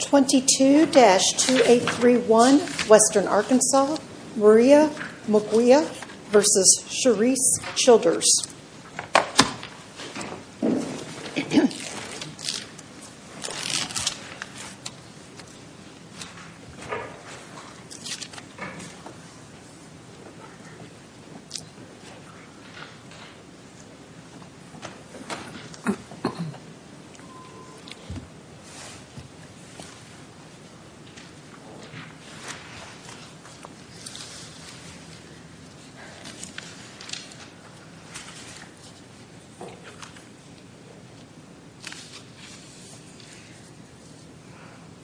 22-2831 Western Arkansas Maria Murguia v. Charisse Childers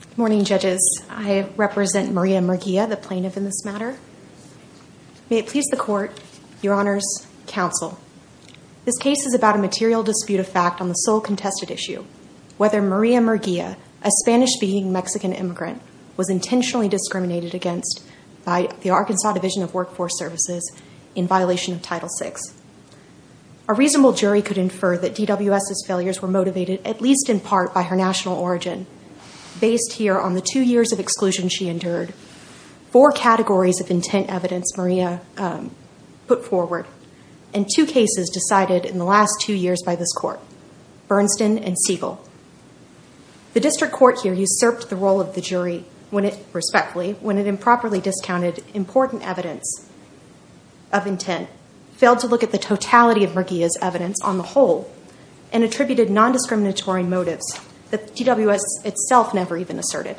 Good morning judges. I represent Maria Murguia, the plaintiff in this matter. May it please the court, your honors, counsel, this case is about a material dispute of fact on the sole contested issue, whether Maria Murguia, a Spanish-speaking Mexican immigrant, was intentionally discriminated against by the Arkansas Division of Workforce Services in violation of Title VI. A reasonable jury could infer that DWS's failures were motivated, at least in part, by her national origin. Based here on the two years of exclusion she endured, four categories of intent evidence Maria put forward, and two cases decided in the last two years by this court, Bernstein and Siegel. The district court here usurped the role of the jury when it, respectfully, when it improperly discounted important evidence of intent, failed to look at the totality of Murguia's evidence on the whole, and attributed nondiscriminatory motives that DWS itself never even asserted.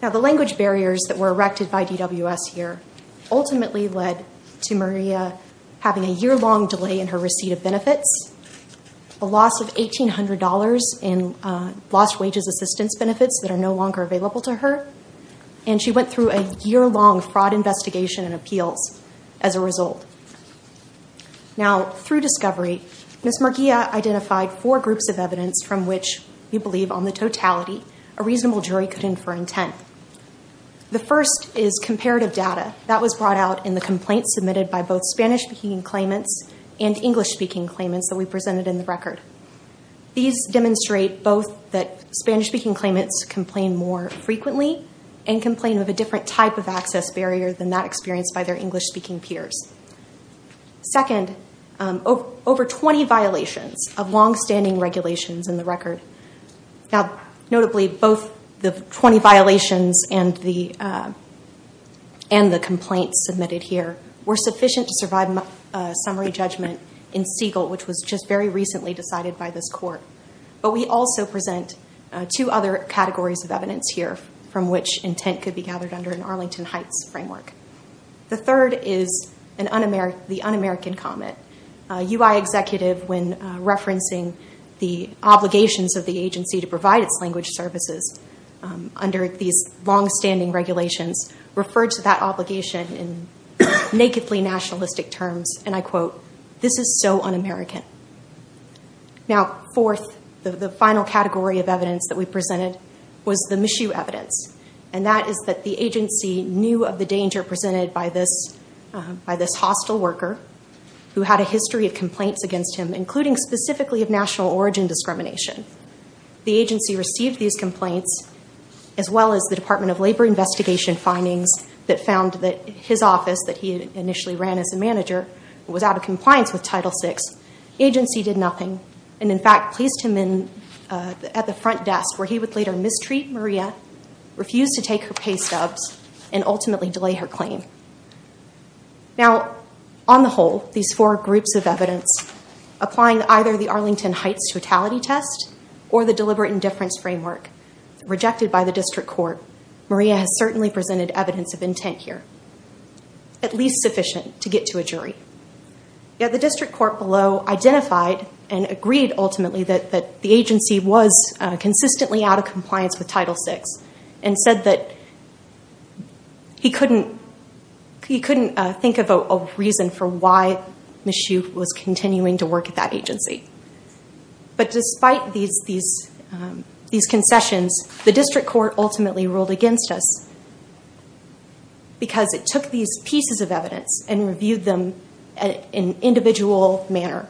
Now the language barriers that were erected by DWS here ultimately led to Maria having a year-long delay in her receipt of benefits, a loss of $1,800 in lost wages assistance benefits that are no longer available to her, and she went through a year-long fraud investigation and appeals as a result. Now through discovery, Ms. Murguia identified four groups of evidence from which we believe on the totality a reasonable jury could infer intent. The first is comparative data that was brought out in the complaints submitted by both Spanish-speaking claimants and English-speaking claimants that we presented in the record. These demonstrate both that Spanish-speaking claimants complain more frequently and complain of a different type of access barrier than that experienced by their English-speaking peers. Second, over 20 violations of longstanding regulations in the record. Now notably, both the 20 violations and the complaints submitted here were sufficient to survive a summary judgment in Siegel, which was just very recently decided by this court. But we also present two other categories of evidence here from which intent could be gathered under an Arlington Heights framework. The third is the un-American comment. UI executive, when referencing the obligations of the agency to provide its language services under these longstanding regulations, referred to that obligation in nakedly nationalistic terms and I quote, this is so un-American. Now fourth, the final category of evidence that we presented was the Michoud evidence. And that is that the agency knew of the danger presented by this hostile worker who had a history of complaints against him, including specifically of national origin discrimination. The agency received these complaints as well as the Department of Labor investigation findings that found that his office that he initially ran as a manager was out of compliance with Title VI. Agency did nothing and in fact placed him at the front desk where he would later mistreat Maria, refuse to take her pay stubs and ultimately delay her claim. Now on the whole, these four groups of evidence applying either the Arlington Heights totality test or the deliberate indifference framework rejected by the district court, Maria has certainly presented evidence of intent here. At least sufficient to get to a jury. Yet the district court below identified and agreed ultimately that the agency was consistently out of compliance with Title VI and said that he couldn't think of a reason for why Michoud was continuing to work at that agency. But despite these concessions, the district court ultimately ruled against us because it took these pieces of evidence and reviewed them in an individual manner.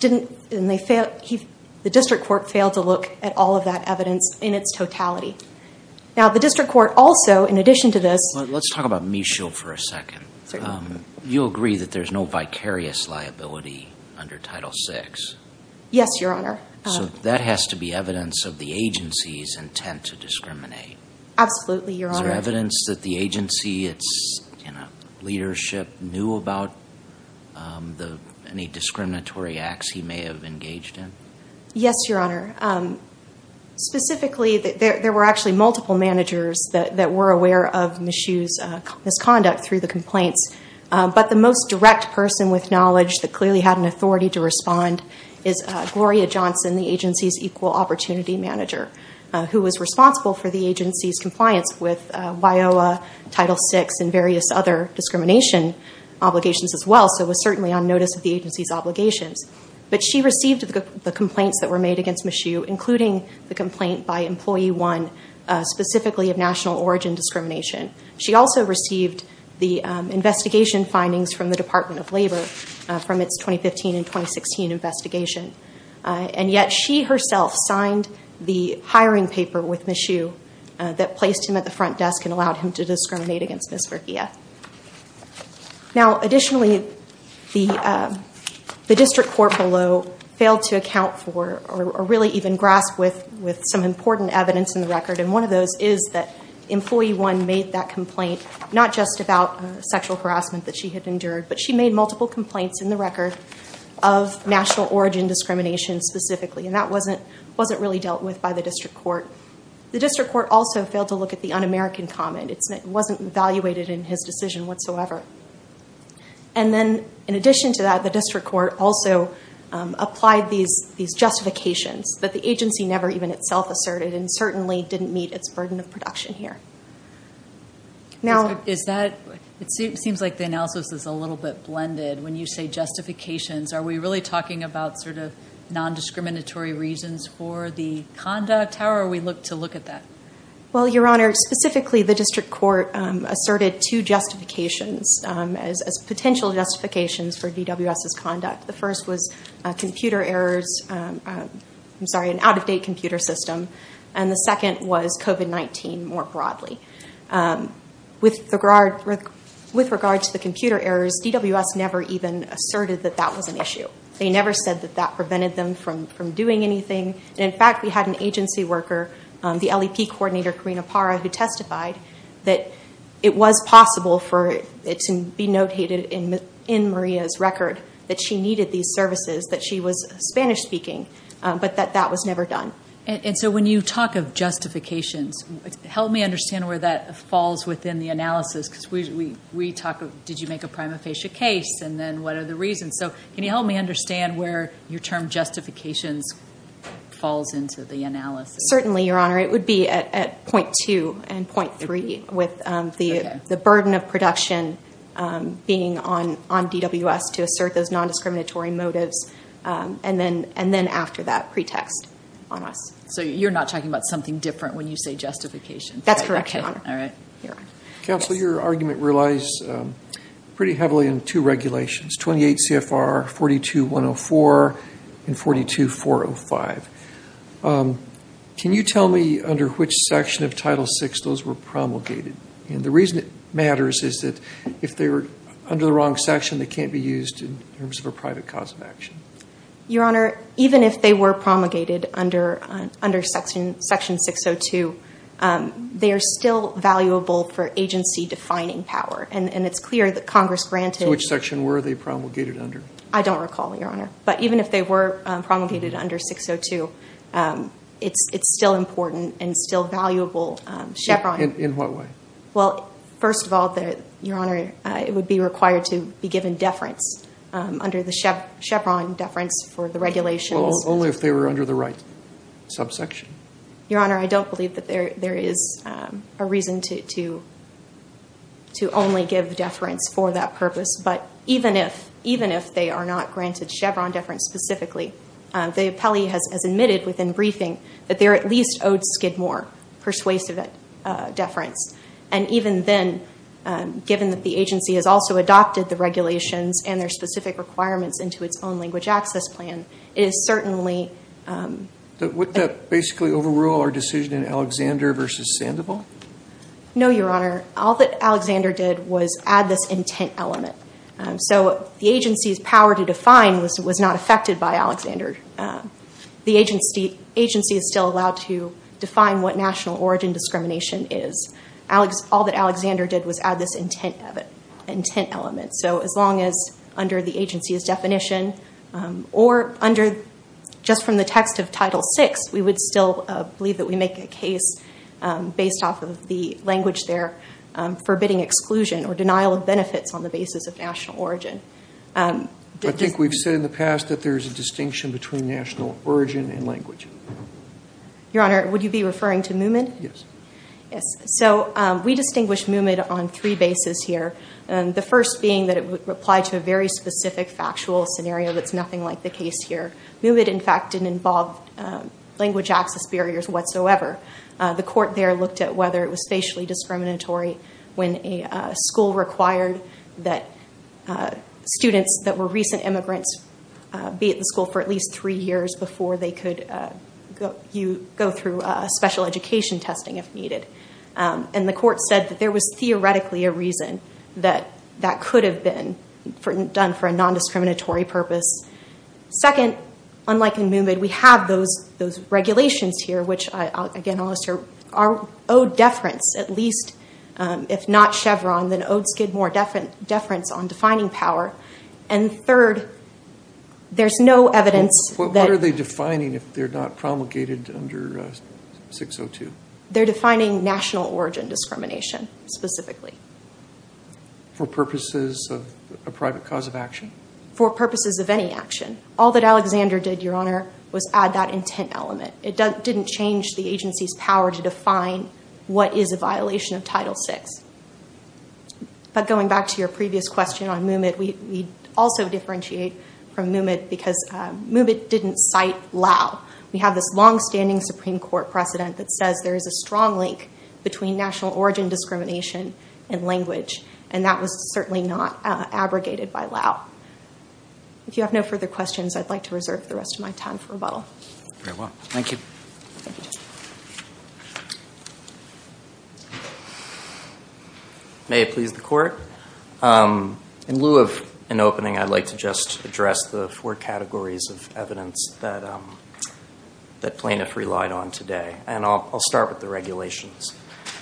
The district court failed to look at all of that evidence in its totality. Now the district court also in addition to this. Let's talk about Michoud for a second. You agree that there's no vicarious liability under Title VI? Yes, Your Honor. So that has to be evidence of the agency's intent to discriminate? Absolutely, Your Honor. Is there evidence that the agency, its leadership knew about any discriminatory acts he may have engaged in? Yes, Your Honor. Specifically, there were actually multiple managers that were aware of Michoud's misconduct through the complaints. But the most direct person with knowledge that clearly had an authority to respond is Gloria Johnson, the agency's equal opportunity manager, who was responsible for the agency's compliance with WIOA, Title VI, and various other discrimination obligations as well. So it was certainly on notice of the agency's obligations. But she received the complaints that were made against Michoud, including the complaint by Employee 1, specifically of national origin discrimination. She also received the investigation findings from the Department of Labor from its 2015 and 2016 investigation. And yet she herself signed the hiring paper with Michoud that placed him at the front desk and allowed him to discriminate against Ms. Verghia. Now, additionally, the district court below failed to account for or really even grasp with some important evidence in the record. And one of those is that Employee 1 made that complaint not just about sexual harassment that she had endured, but she made multiple complaints in the record of national origin discrimination specifically. And that wasn't really dealt with by the district court. The in his decision whatsoever. And then, in addition to that, the district court also applied these justifications that the agency never even itself asserted and certainly didn't meet its burden of production here. Now... Is that... It seems like the analysis is a little bit blended. When you say justifications, are we really talking about sort of non-discriminatory reasons for the conduct? How are we to look at that? Well, Your Honor, specifically the district court asserted two justifications as potential justifications for DWS's conduct. The first was computer errors. I'm sorry, an out-of-date computer system. And the second was COVID-19 more broadly. With regard to the computer errors, DWS never even asserted that that was an issue. They never said that that prevented them from doing anything. And in fact, we had an agency worker, the LEP coordinator Karina Parra, who testified that it was possible for it to be notated in Maria's record that she needed these services, that she was Spanish-speaking, but that that was never done. And so when you talk of justifications, help me understand where that falls within the analysis because we talk of, did you make a prima facie case? And then what are the reasons? So can you help me understand where your term justifications falls into the analysis? Certainly, Your Honor. It would be at point two and point three with the burden of production being on DWS to assert those non-discriminatory motives. And then after that, pretext on us. So you're not talking about something different when you say justifications? That's correct, Your Honor. All right. Counsel, your argument relies pretty heavily on two regulations, 28 CFR 42-104 and 42-405. Can you tell me under which section of Title VI those were promulgated? And the reason it matters is that if they were under the wrong section, they can't be used in terms of a private cause of action. Your Honor, even if they were promulgated under Section 602, they are still valuable for agency-defining power. And it's clear that Congress granted... So which section were they promulgated under? I don't recall, Your Honor. But even if they were promulgated under 602, it's still important and still valuable. In what way? Well, first of all, Your Honor, it would be required to be given deference under the Chevron deference for the regulations. Only if they were under the right subsection? Your Honor, I don't believe that there is a reason to only give deference for that purpose. But even if they are not granted Chevron deference specifically, the appellee has admitted within least owed Skidmore persuasive deference. And even then, given that the agency has also adopted the regulations and their specific requirements into its own language access plan, it is certainly... Would that basically overrule our decision in Alexander v. Sandoval? No, Your Honor. All that Alexander did was add this intent element. So the agency's power to define was not affected by Alexander. The agency is still allowed to define what national origin discrimination is. All that Alexander did was add this intent element. So as long as under the agency's definition or under just from the text of Title VI, we would still believe that we make a case based off of the language there, forbidding exclusion or denial of benefits on the basis of national origin. I think we've said in the past that there's a distinction between national origin and language. Your Honor, would you be referring to Moomin? Yes. Yes. So we distinguish Moomin on three bases here. The first being that it would apply to a very specific factual scenario that's nothing like the case here. Moomin, in fact, didn't involve language access barriers whatsoever. The court there looked at whether it was facially discriminatory when a school required that students that were recent immigrants be at the school for at least three years before they could go through special education testing if needed. And the court said that there was theoretically a reason that that could have been done for a non-discriminatory purpose. Second, unlike in Moomin, we have those regulations here, which, again, are owed deference at least. If not Chevron, then owed Skidmore deference on defining power. And third, there's no evidence that— What are they defining if they're not promulgated under 602? They're defining national origin discrimination specifically. For purposes of a private cause of action? For purposes of any action. All that Alexander did, Your Honor, was add that intent element. It didn't change the agency's power to define what is a violation of Title VI. But going back to your previous question on Moomin, we also differentiate from Moomin because Moomin didn't cite Lao. We have this longstanding Supreme Court precedent that says there is a strong link between national origin discrimination and language, and that was certainly not abrogated by Lao. If you have no further questions, I'd like to reserve the rest of my time for rebuttal. Very well. Thank you. May it please the Court. In lieu of an opening, I'd like to just address the four categories of evidence that plaintiffs relied on today. And I'll start with the regulations.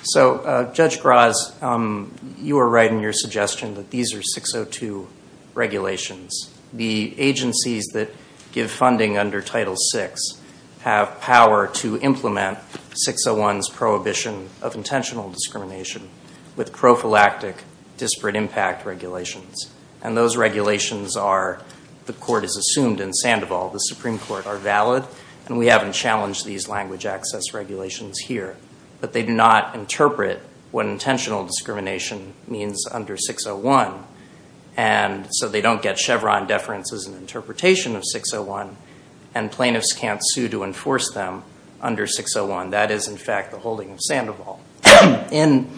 So, Judge Graz, you were right in your suggestion that these are 602 regulations. The agencies that give funding under Title VI have power to implement 601's prohibition of intentional discrimination with prophylactic disparate impact regulations. And those regulations are, the Court has assumed in Sandoval, the Supreme Court are valid, and we haven't challenged these language access regulations here. But they do not interpret what intentional discrimination means under 601. And so they don't get Chevron deference as an interpretation of 601, and plaintiffs can't sue to enforce them under 601. That is, in fact, the holding of Sandoval. In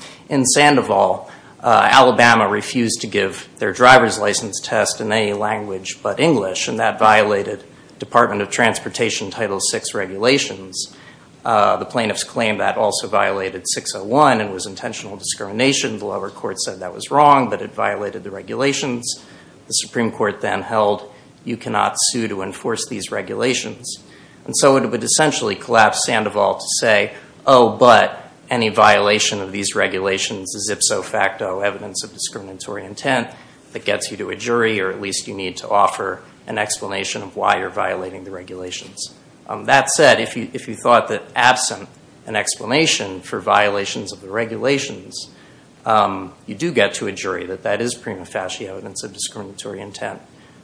Sandoval, Alabama refused to give their driver's license test in any language but English, and that violated Department of Transportation Title VI regulations. The plaintiffs claimed that also violated 601 and was intentional discrimination. The lower court said that was wrong, but it violated the regulations. The Supreme Court then held you cannot sue to enforce these regulations. And so it would essentially collapse Sandoval to say, oh, but any violation of these regulations is ipso facto evidence of discriminatory intent that gets you to a jury, or at least you need to get an explanation of why you're violating the regulations. That said, if you thought that absent an explanation for violations of the regulations, you do get to a jury that that is prima facie evidence of discriminatory intent.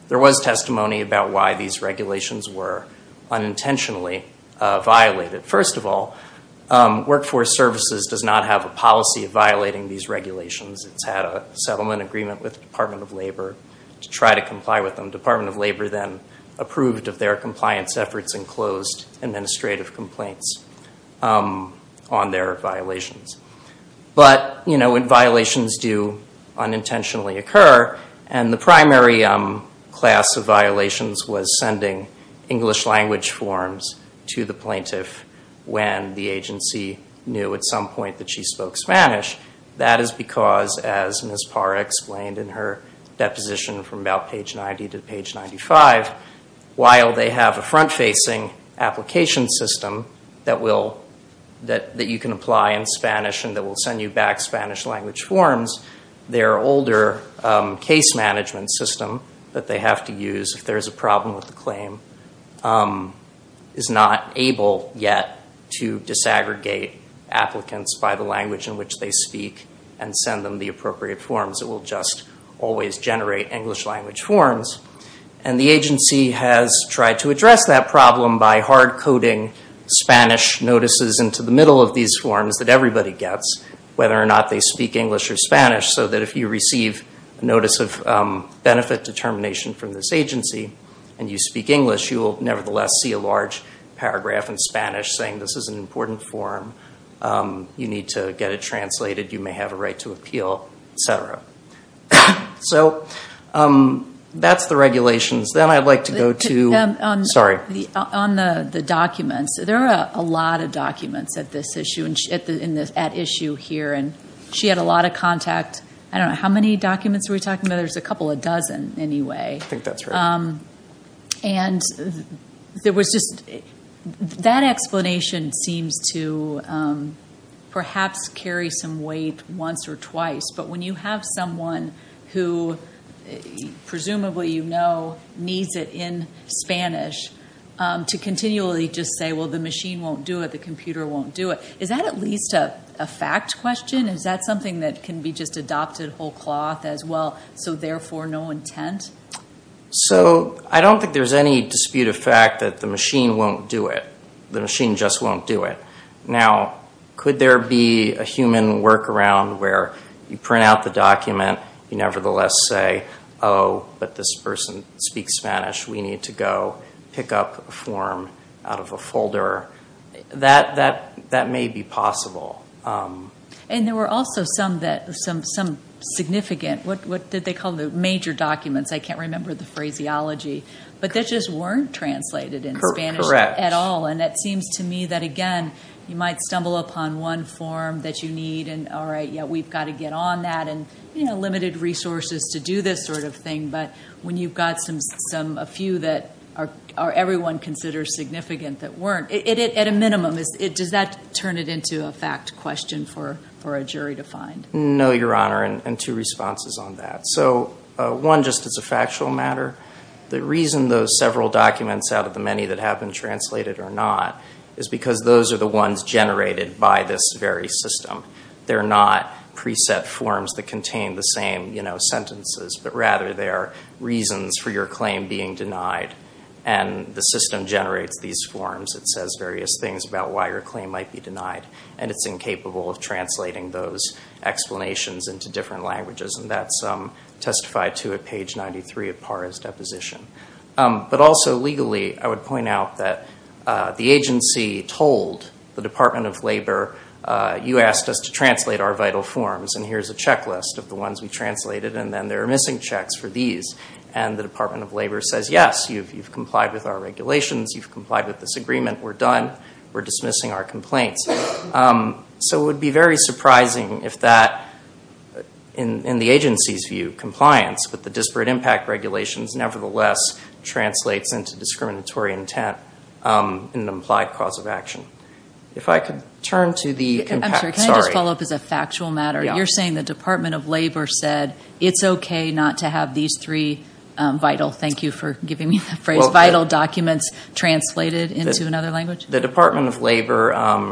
There was testimony about why these regulations were unintentionally violated. First of all, Workforce Services does not have a policy of violating these regulations. It's had a settlement agreement with Department of Labor to try to comply with them. Department of Labor then approved of their compliance efforts and closed administrative complaints on their violations. But violations do unintentionally occur, and the primary class of violations was sending English language forms to the plaintiff when the agency knew at some point that she spoke Spanish. That is because, as Ms. Parra explained in her deposition from about page 90 to page 95, while they have a front-facing application system that you can apply in Spanish and that will send you back Spanish language forms, their older case management system that they have to use if there's a problem with the claim is not able yet to disaggregate applicants by the language in which they speak and send them the appropriate forms. It will just always generate English language forms, and the agency has tried to address that problem by hard coding Spanish notices into the middle of these forms that everybody gets, whether or not they speak English or Spanish, so that if you receive a notice of benefit determination from this agency and you speak English, you will nevertheless see a large paragraph in Spanish saying this is an important form, you need to get it translated, you may have a right to appeal, etc. So that's the regulations. Then I'd like to go to, sorry. On the documents, there are a lot of documents at issue here, and she had a lot of contact, I don't know, how many documents are we talking about? There's a couple of dozen anyway. I think that's right. That explanation seems to perhaps carry some weight once or twice, but when you have someone who, presumably you know, needs it in Spanish, to continually just say, well the machine won't do it, the computer won't do it, is that at least a fact question? Is that something that can be just adopted whole cloth as well, so therefore no intent? So I don't think there's any dispute of Now, could there be a human workaround where you print out the document, you nevertheless say, oh, but this person speaks Spanish, we need to go pick up a form out of a folder? That may be possible. And there were also some that, some significant, what did they call the major documents? I can't remember the phraseology, but they just weren't translated in Spanish at all, and it seems to me that again, you might stumble upon one form that you need, and all right, yeah, we've got to get on that, and you know, limited resources to do this sort of thing, but when you've got a few that everyone considers significant that weren't, at a minimum, does that turn it into a fact question for a jury to find? No, Your Honor, and two responses on that. So one, just as a factual matter, the reason those several documents out of the many that have been translated or not is because those are the ones generated by this very system. They're not preset forms that contain the same, you know, sentences, but rather they are reasons for your claim being denied, and the system generates these forms. It says various things about why your claim might be denied, and it's incapable of translating those explanations into different languages, and that's testified to at page 93 of PARA's deposition. But also, legally, I would point out that the agency told the Department of Labor, you asked us to translate our vital forms, and here's a checklist of the ones we translated, and then there are missing checks for these, and the Department of Labor says, yes, you've complied with our regulations, you've complied with this agreement, we're done, we're dismissing our complaints. So it would be very surprising if that, in the agency's view, compliance with the disparate impact regulations nevertheless translates into discriminatory intent in an implied cause of action. If I could turn to the... I'm sorry, can I just follow up as a factual matter? You're saying the Department of Labor said, it's okay not to have these three vital, thank you for giving me that phrase, vital documents translated into another language? The Department of Labor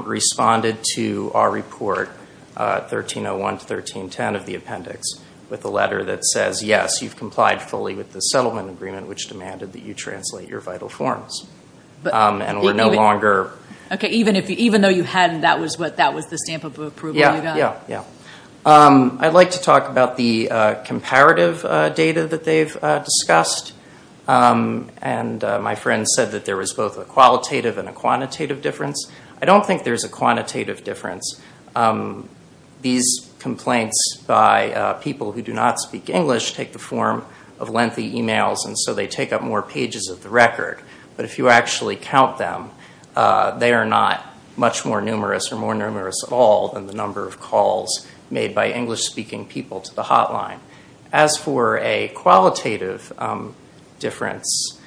responded to our report, 1301 to 1310 of the appendix, with a letter that says, yes, you've complied fully with the settlement agreement which demanded that you translate your vital forms, and we're no longer... Okay, even though you hadn't, that was the stamp of approval you got? Yeah, yeah. I'd like to talk about the comparative data that they've discussed, and my friend said that there was both a qualitative and a quantitative difference. I don't think there's a quantitative difference. These complaints by people who do not speak English take the form of lengthy emails, and so they take up more pages of the record, but if you actually count them, they are not much more numerous or more numerous at all than the number of calls made by English-speaking people to the hotline. As for a qualitative difference,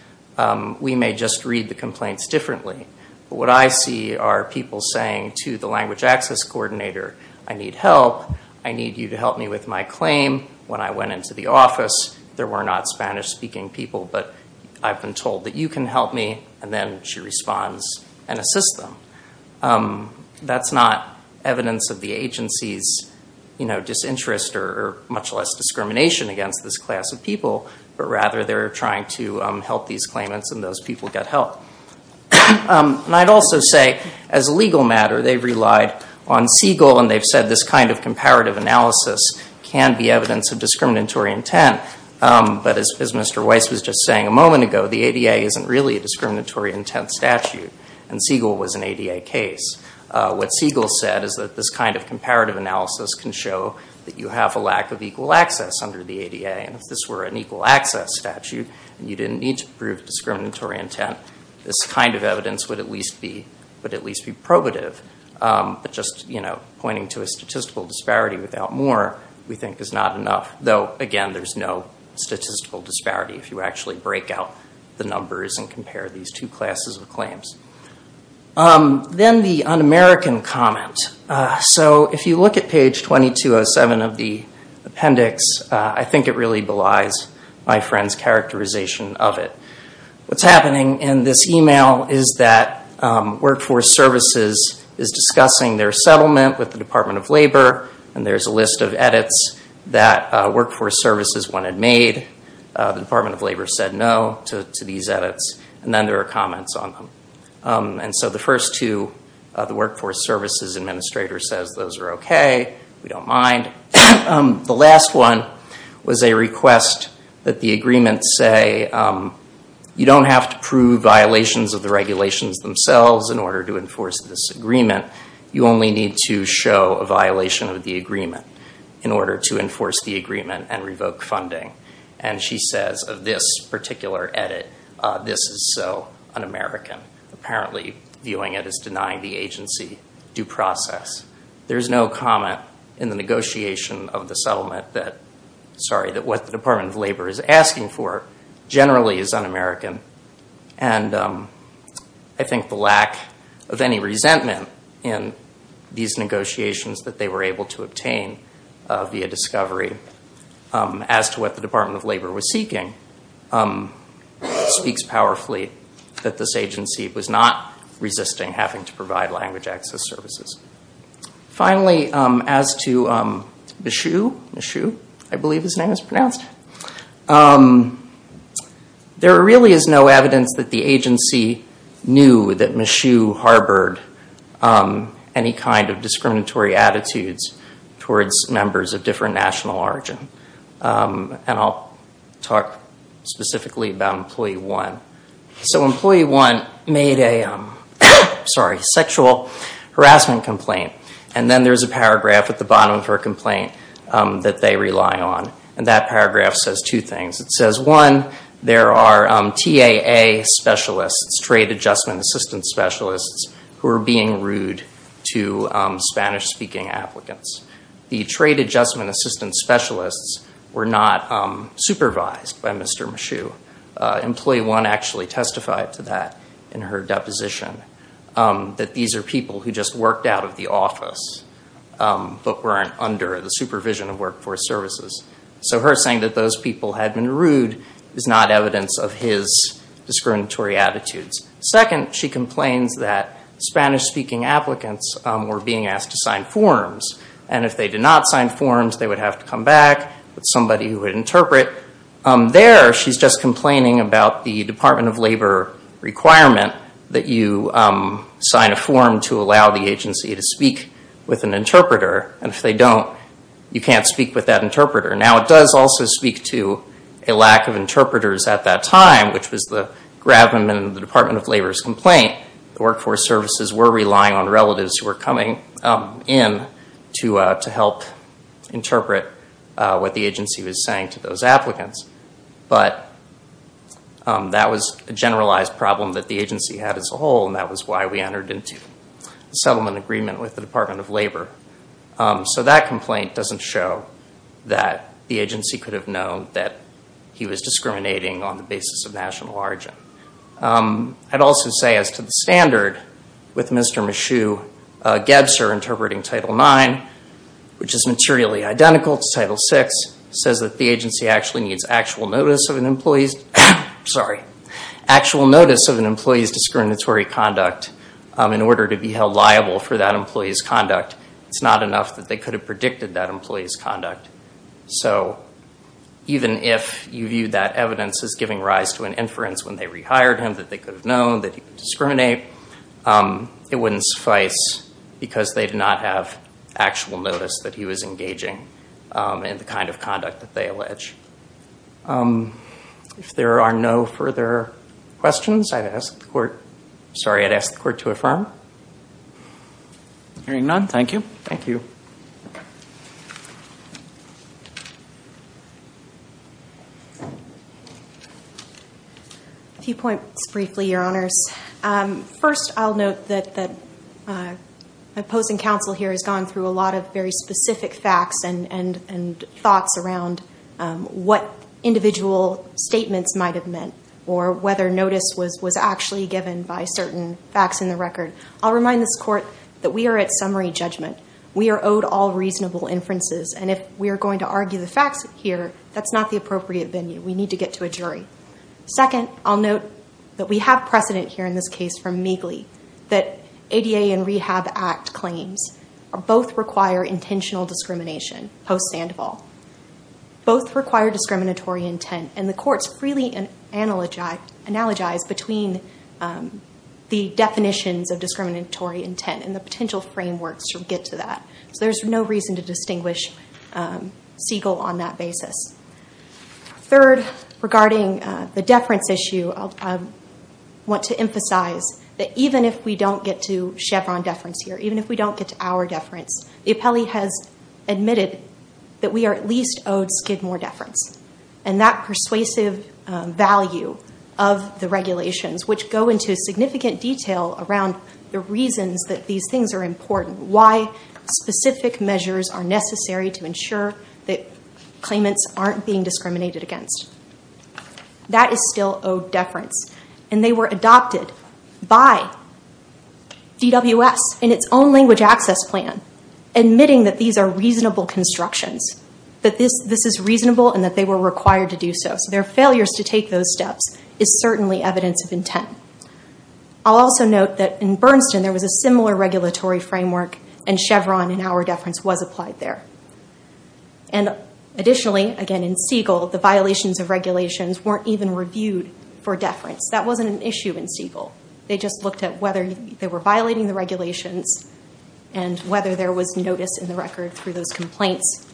we may just read the complaints differently, but what I see are people saying to the language access coordinator, I need help. I need you to help me with my claim. When I went into the office, there were not Spanish-speaking people, but I've been told that you can help me, and then she responds and assists them. That's not evidence of the agency's disinterest or much less discrimination against this class of people, but rather they're trying to help these claimants and those people got help. And I'd also say as a legal matter, they've relied on Siegel, and they've said this kind of comparative analysis can be evidence of discriminatory intent, but as Mr. Weiss was just saying a moment ago, the ADA isn't really a discriminatory intent statute, and Siegel was an ADA case. What Siegel said is that this kind of comparative analysis can show that you have a lack of equal access under the ADA, and if this were an equal access statute, you didn't need to This kind of evidence would at least be probative, but just pointing to a statistical disparity without more, we think is not enough. Though again, there's no statistical disparity if you actually break out the numbers and compare these two classes of claims. Then the un-American comment. So if you look at page 2207 of the appendix, I think it really belies my friend's in this email is that Workforce Services is discussing their settlement with the Department of Labor, and there's a list of edits that Workforce Services wanted made. The Department of Labor said no to these edits, and then there are comments on them. And so the first two, the Workforce Services administrator says those are okay, we don't mind. The last one was a request that the agreement say you don't have to prove violations of the regulations themselves in order to enforce this agreement. You only need to show a violation of the agreement in order to enforce the agreement and revoke funding. And she says of this particular edit, this is so un-American. Apparently viewing it as denying the agency due process. There's no comment in the negotiation of the settlement that what the Department of Labor is asking for generally is un-American. And I think the lack of any resentment in these negotiations that they were able to obtain via discovery as to what the Department of Labor was seeking speaks powerfully that this agency was not resisting having to provide language access services. Finally, as to Michoud, I believe his name is pronounced, there really is no evidence that the agency knew that Michoud harbored any kind of discriminatory attitudes towards members of different national origin. And I'll talk specifically about Employee 1 made a sexual harassment complaint. And then there's a paragraph at the bottom of her complaint that they rely on. And that paragraph says two things. It says one, there are TAA specialists, Trade Adjustment Assistance specialists, who are being rude to Spanish-speaking applicants. The Trade Adjustment Assistance specialists were not supervised by Mr. Michoud. Employee 1 actually testified to that in her deposition, that these are people who just worked out of the office but weren't under the supervision of Workforce Services. So her saying that those people had been rude is not evidence of his discriminatory attitudes. Second, she complains that Spanish-speaking applicants were being asked to sign forms. And if they did not sign forms, they would have to come back with somebody who would interpret. There, she's just complaining about the Department of Labor requirement that you sign a form to allow the agency to speak with an interpreter. And if they don't, you can't speak with that interpreter. Now, it does also speak to a lack of interpreters at that time, which was the gravamen in the Department of Labor's complaint. The Workforce Services were relying on relatives who were coming in to help interpret what the agency was saying to those applicants. But that was a generalized problem that the agency had as a whole, and that was why we entered into a settlement agreement with the Department of Labor. So that complaint doesn't show that the agency could have known that he was discriminating on the basis of national origin. I'd also say as to the standard with Mr. Michoud Gebser interpreting Title IX, which is materially identical to Title VI, says that the agency actually needs actual notice of an employee's discriminatory conduct in order to be held liable for that employee's conduct. It's not enough that they could have predicted that employee's conduct. So even if you view that evidence as giving rise to an inference when they rehired him, that they could have known that he would discriminate, it wouldn't suffice because they did not have actual notice that he was engaging in the kind of conduct that they allege. If there are no further questions, I'd ask the court to affirm. Hearing none, thank you. Thank you. A few points briefly, Your Honors. First, I'll note that my opposing counsel here has gone through a lot of very specific facts and thoughts around what individual statements might have meant or whether notice was actually given by certain facts in the record. I'll remind this court that we are at summary judgment. We are on a case-by-case basis. We are not going to all reasonable inferences, and if we are going to argue the facts here, that's not the appropriate venue. We need to get to a jury. Second, I'll note that we have precedent here in this case from Meegly that ADA and Rehab Act claims both require intentional discrimination post-Sandoval. Both require discriminatory intent, and the courts freely analogize between the definitions of discriminatory intent and the potential frameworks to get to that. There's no reason to distinguish Siegel on that basis. Third, regarding the deference issue, I want to emphasize that even if we don't get to Chevron deference here, even if we don't get to our deference, the appellee has admitted that we are at least owed Skidmore deference. That persuasive value of the regulations, which go into significant detail around the reasons that these things are important, why specific measures are necessary to ensure that claimants aren't being discriminated against, that is still owed deference. They were adopted by DWS in its own language access plan, admitting that these are reasonable constructions, that this is reasonable and that they were required to do so. Their I'll also note that in Bernston, there was a similar regulatory framework and Chevron and our deference was applied there. Additionally, again in Siegel, the violations of regulations weren't even reviewed for deference. That wasn't an issue in Siegel. They just looked at whether they were violating the regulations and whether there was notice in the record through those complaints.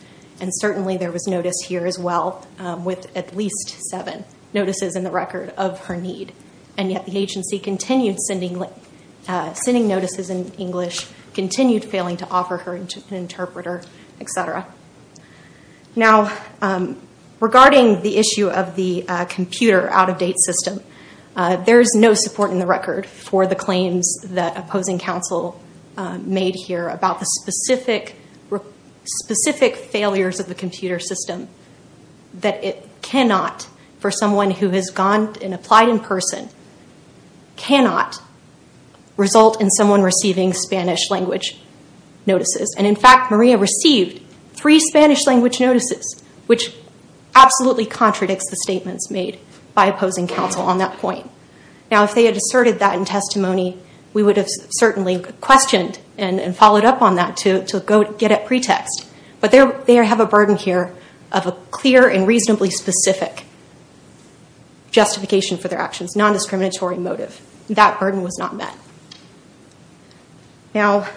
Certainly, there was notice here as well with at least seven notices in the record of her need, and yet the agency continued sending notices in English, continued failing to offer her an interpreter, etc. Now, regarding the issue of the computer out-of-date system, there is no support in the record for the claims that opposing counsel made here about the specific failures of the computer system, that it cannot, for someone who has gone and applied in person, cannot result in someone receiving Spanish language notices. In fact, Maria received three Spanish language notices, which absolutely contradicts the statements made by opposing counsel on that point. Now, if they had asserted that in testimony, we would have certainly questioned and followed up on that to get a pretext, but they have a burden here of a clear and reasonably specific justification for their actions, non-discriminatory motive. That burden was not met. Now,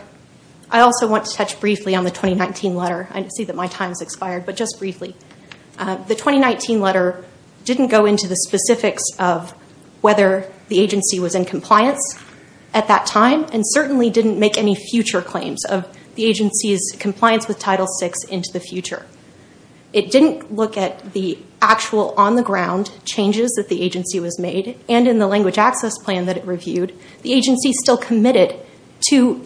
I also want to touch briefly on the 2019 letter. I see that my time has expired, but just briefly. The 2019 letter didn't go into the specifics of whether the agency was in compliance with Title VI into the future. It didn't look at the actual on-the-ground changes that the agency was made, and in the language access plan that it reviewed, the agency still committed to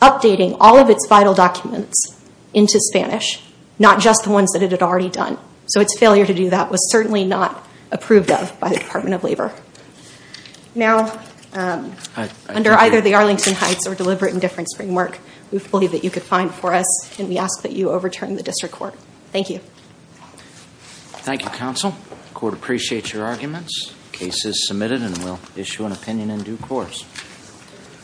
updating all of its vital documents into Spanish, not just the ones that it had already done. Its failure to do that was certainly not approved of by the Department of Labor. Now, under either the Arlington Heights or deliberate indifference framework, we believe that you could find for us. Can we ask that you overturn the district court? Thank you. Thank you, counsel. Court appreciates your arguments. Case is submitted, and we'll issue an opinion in due course.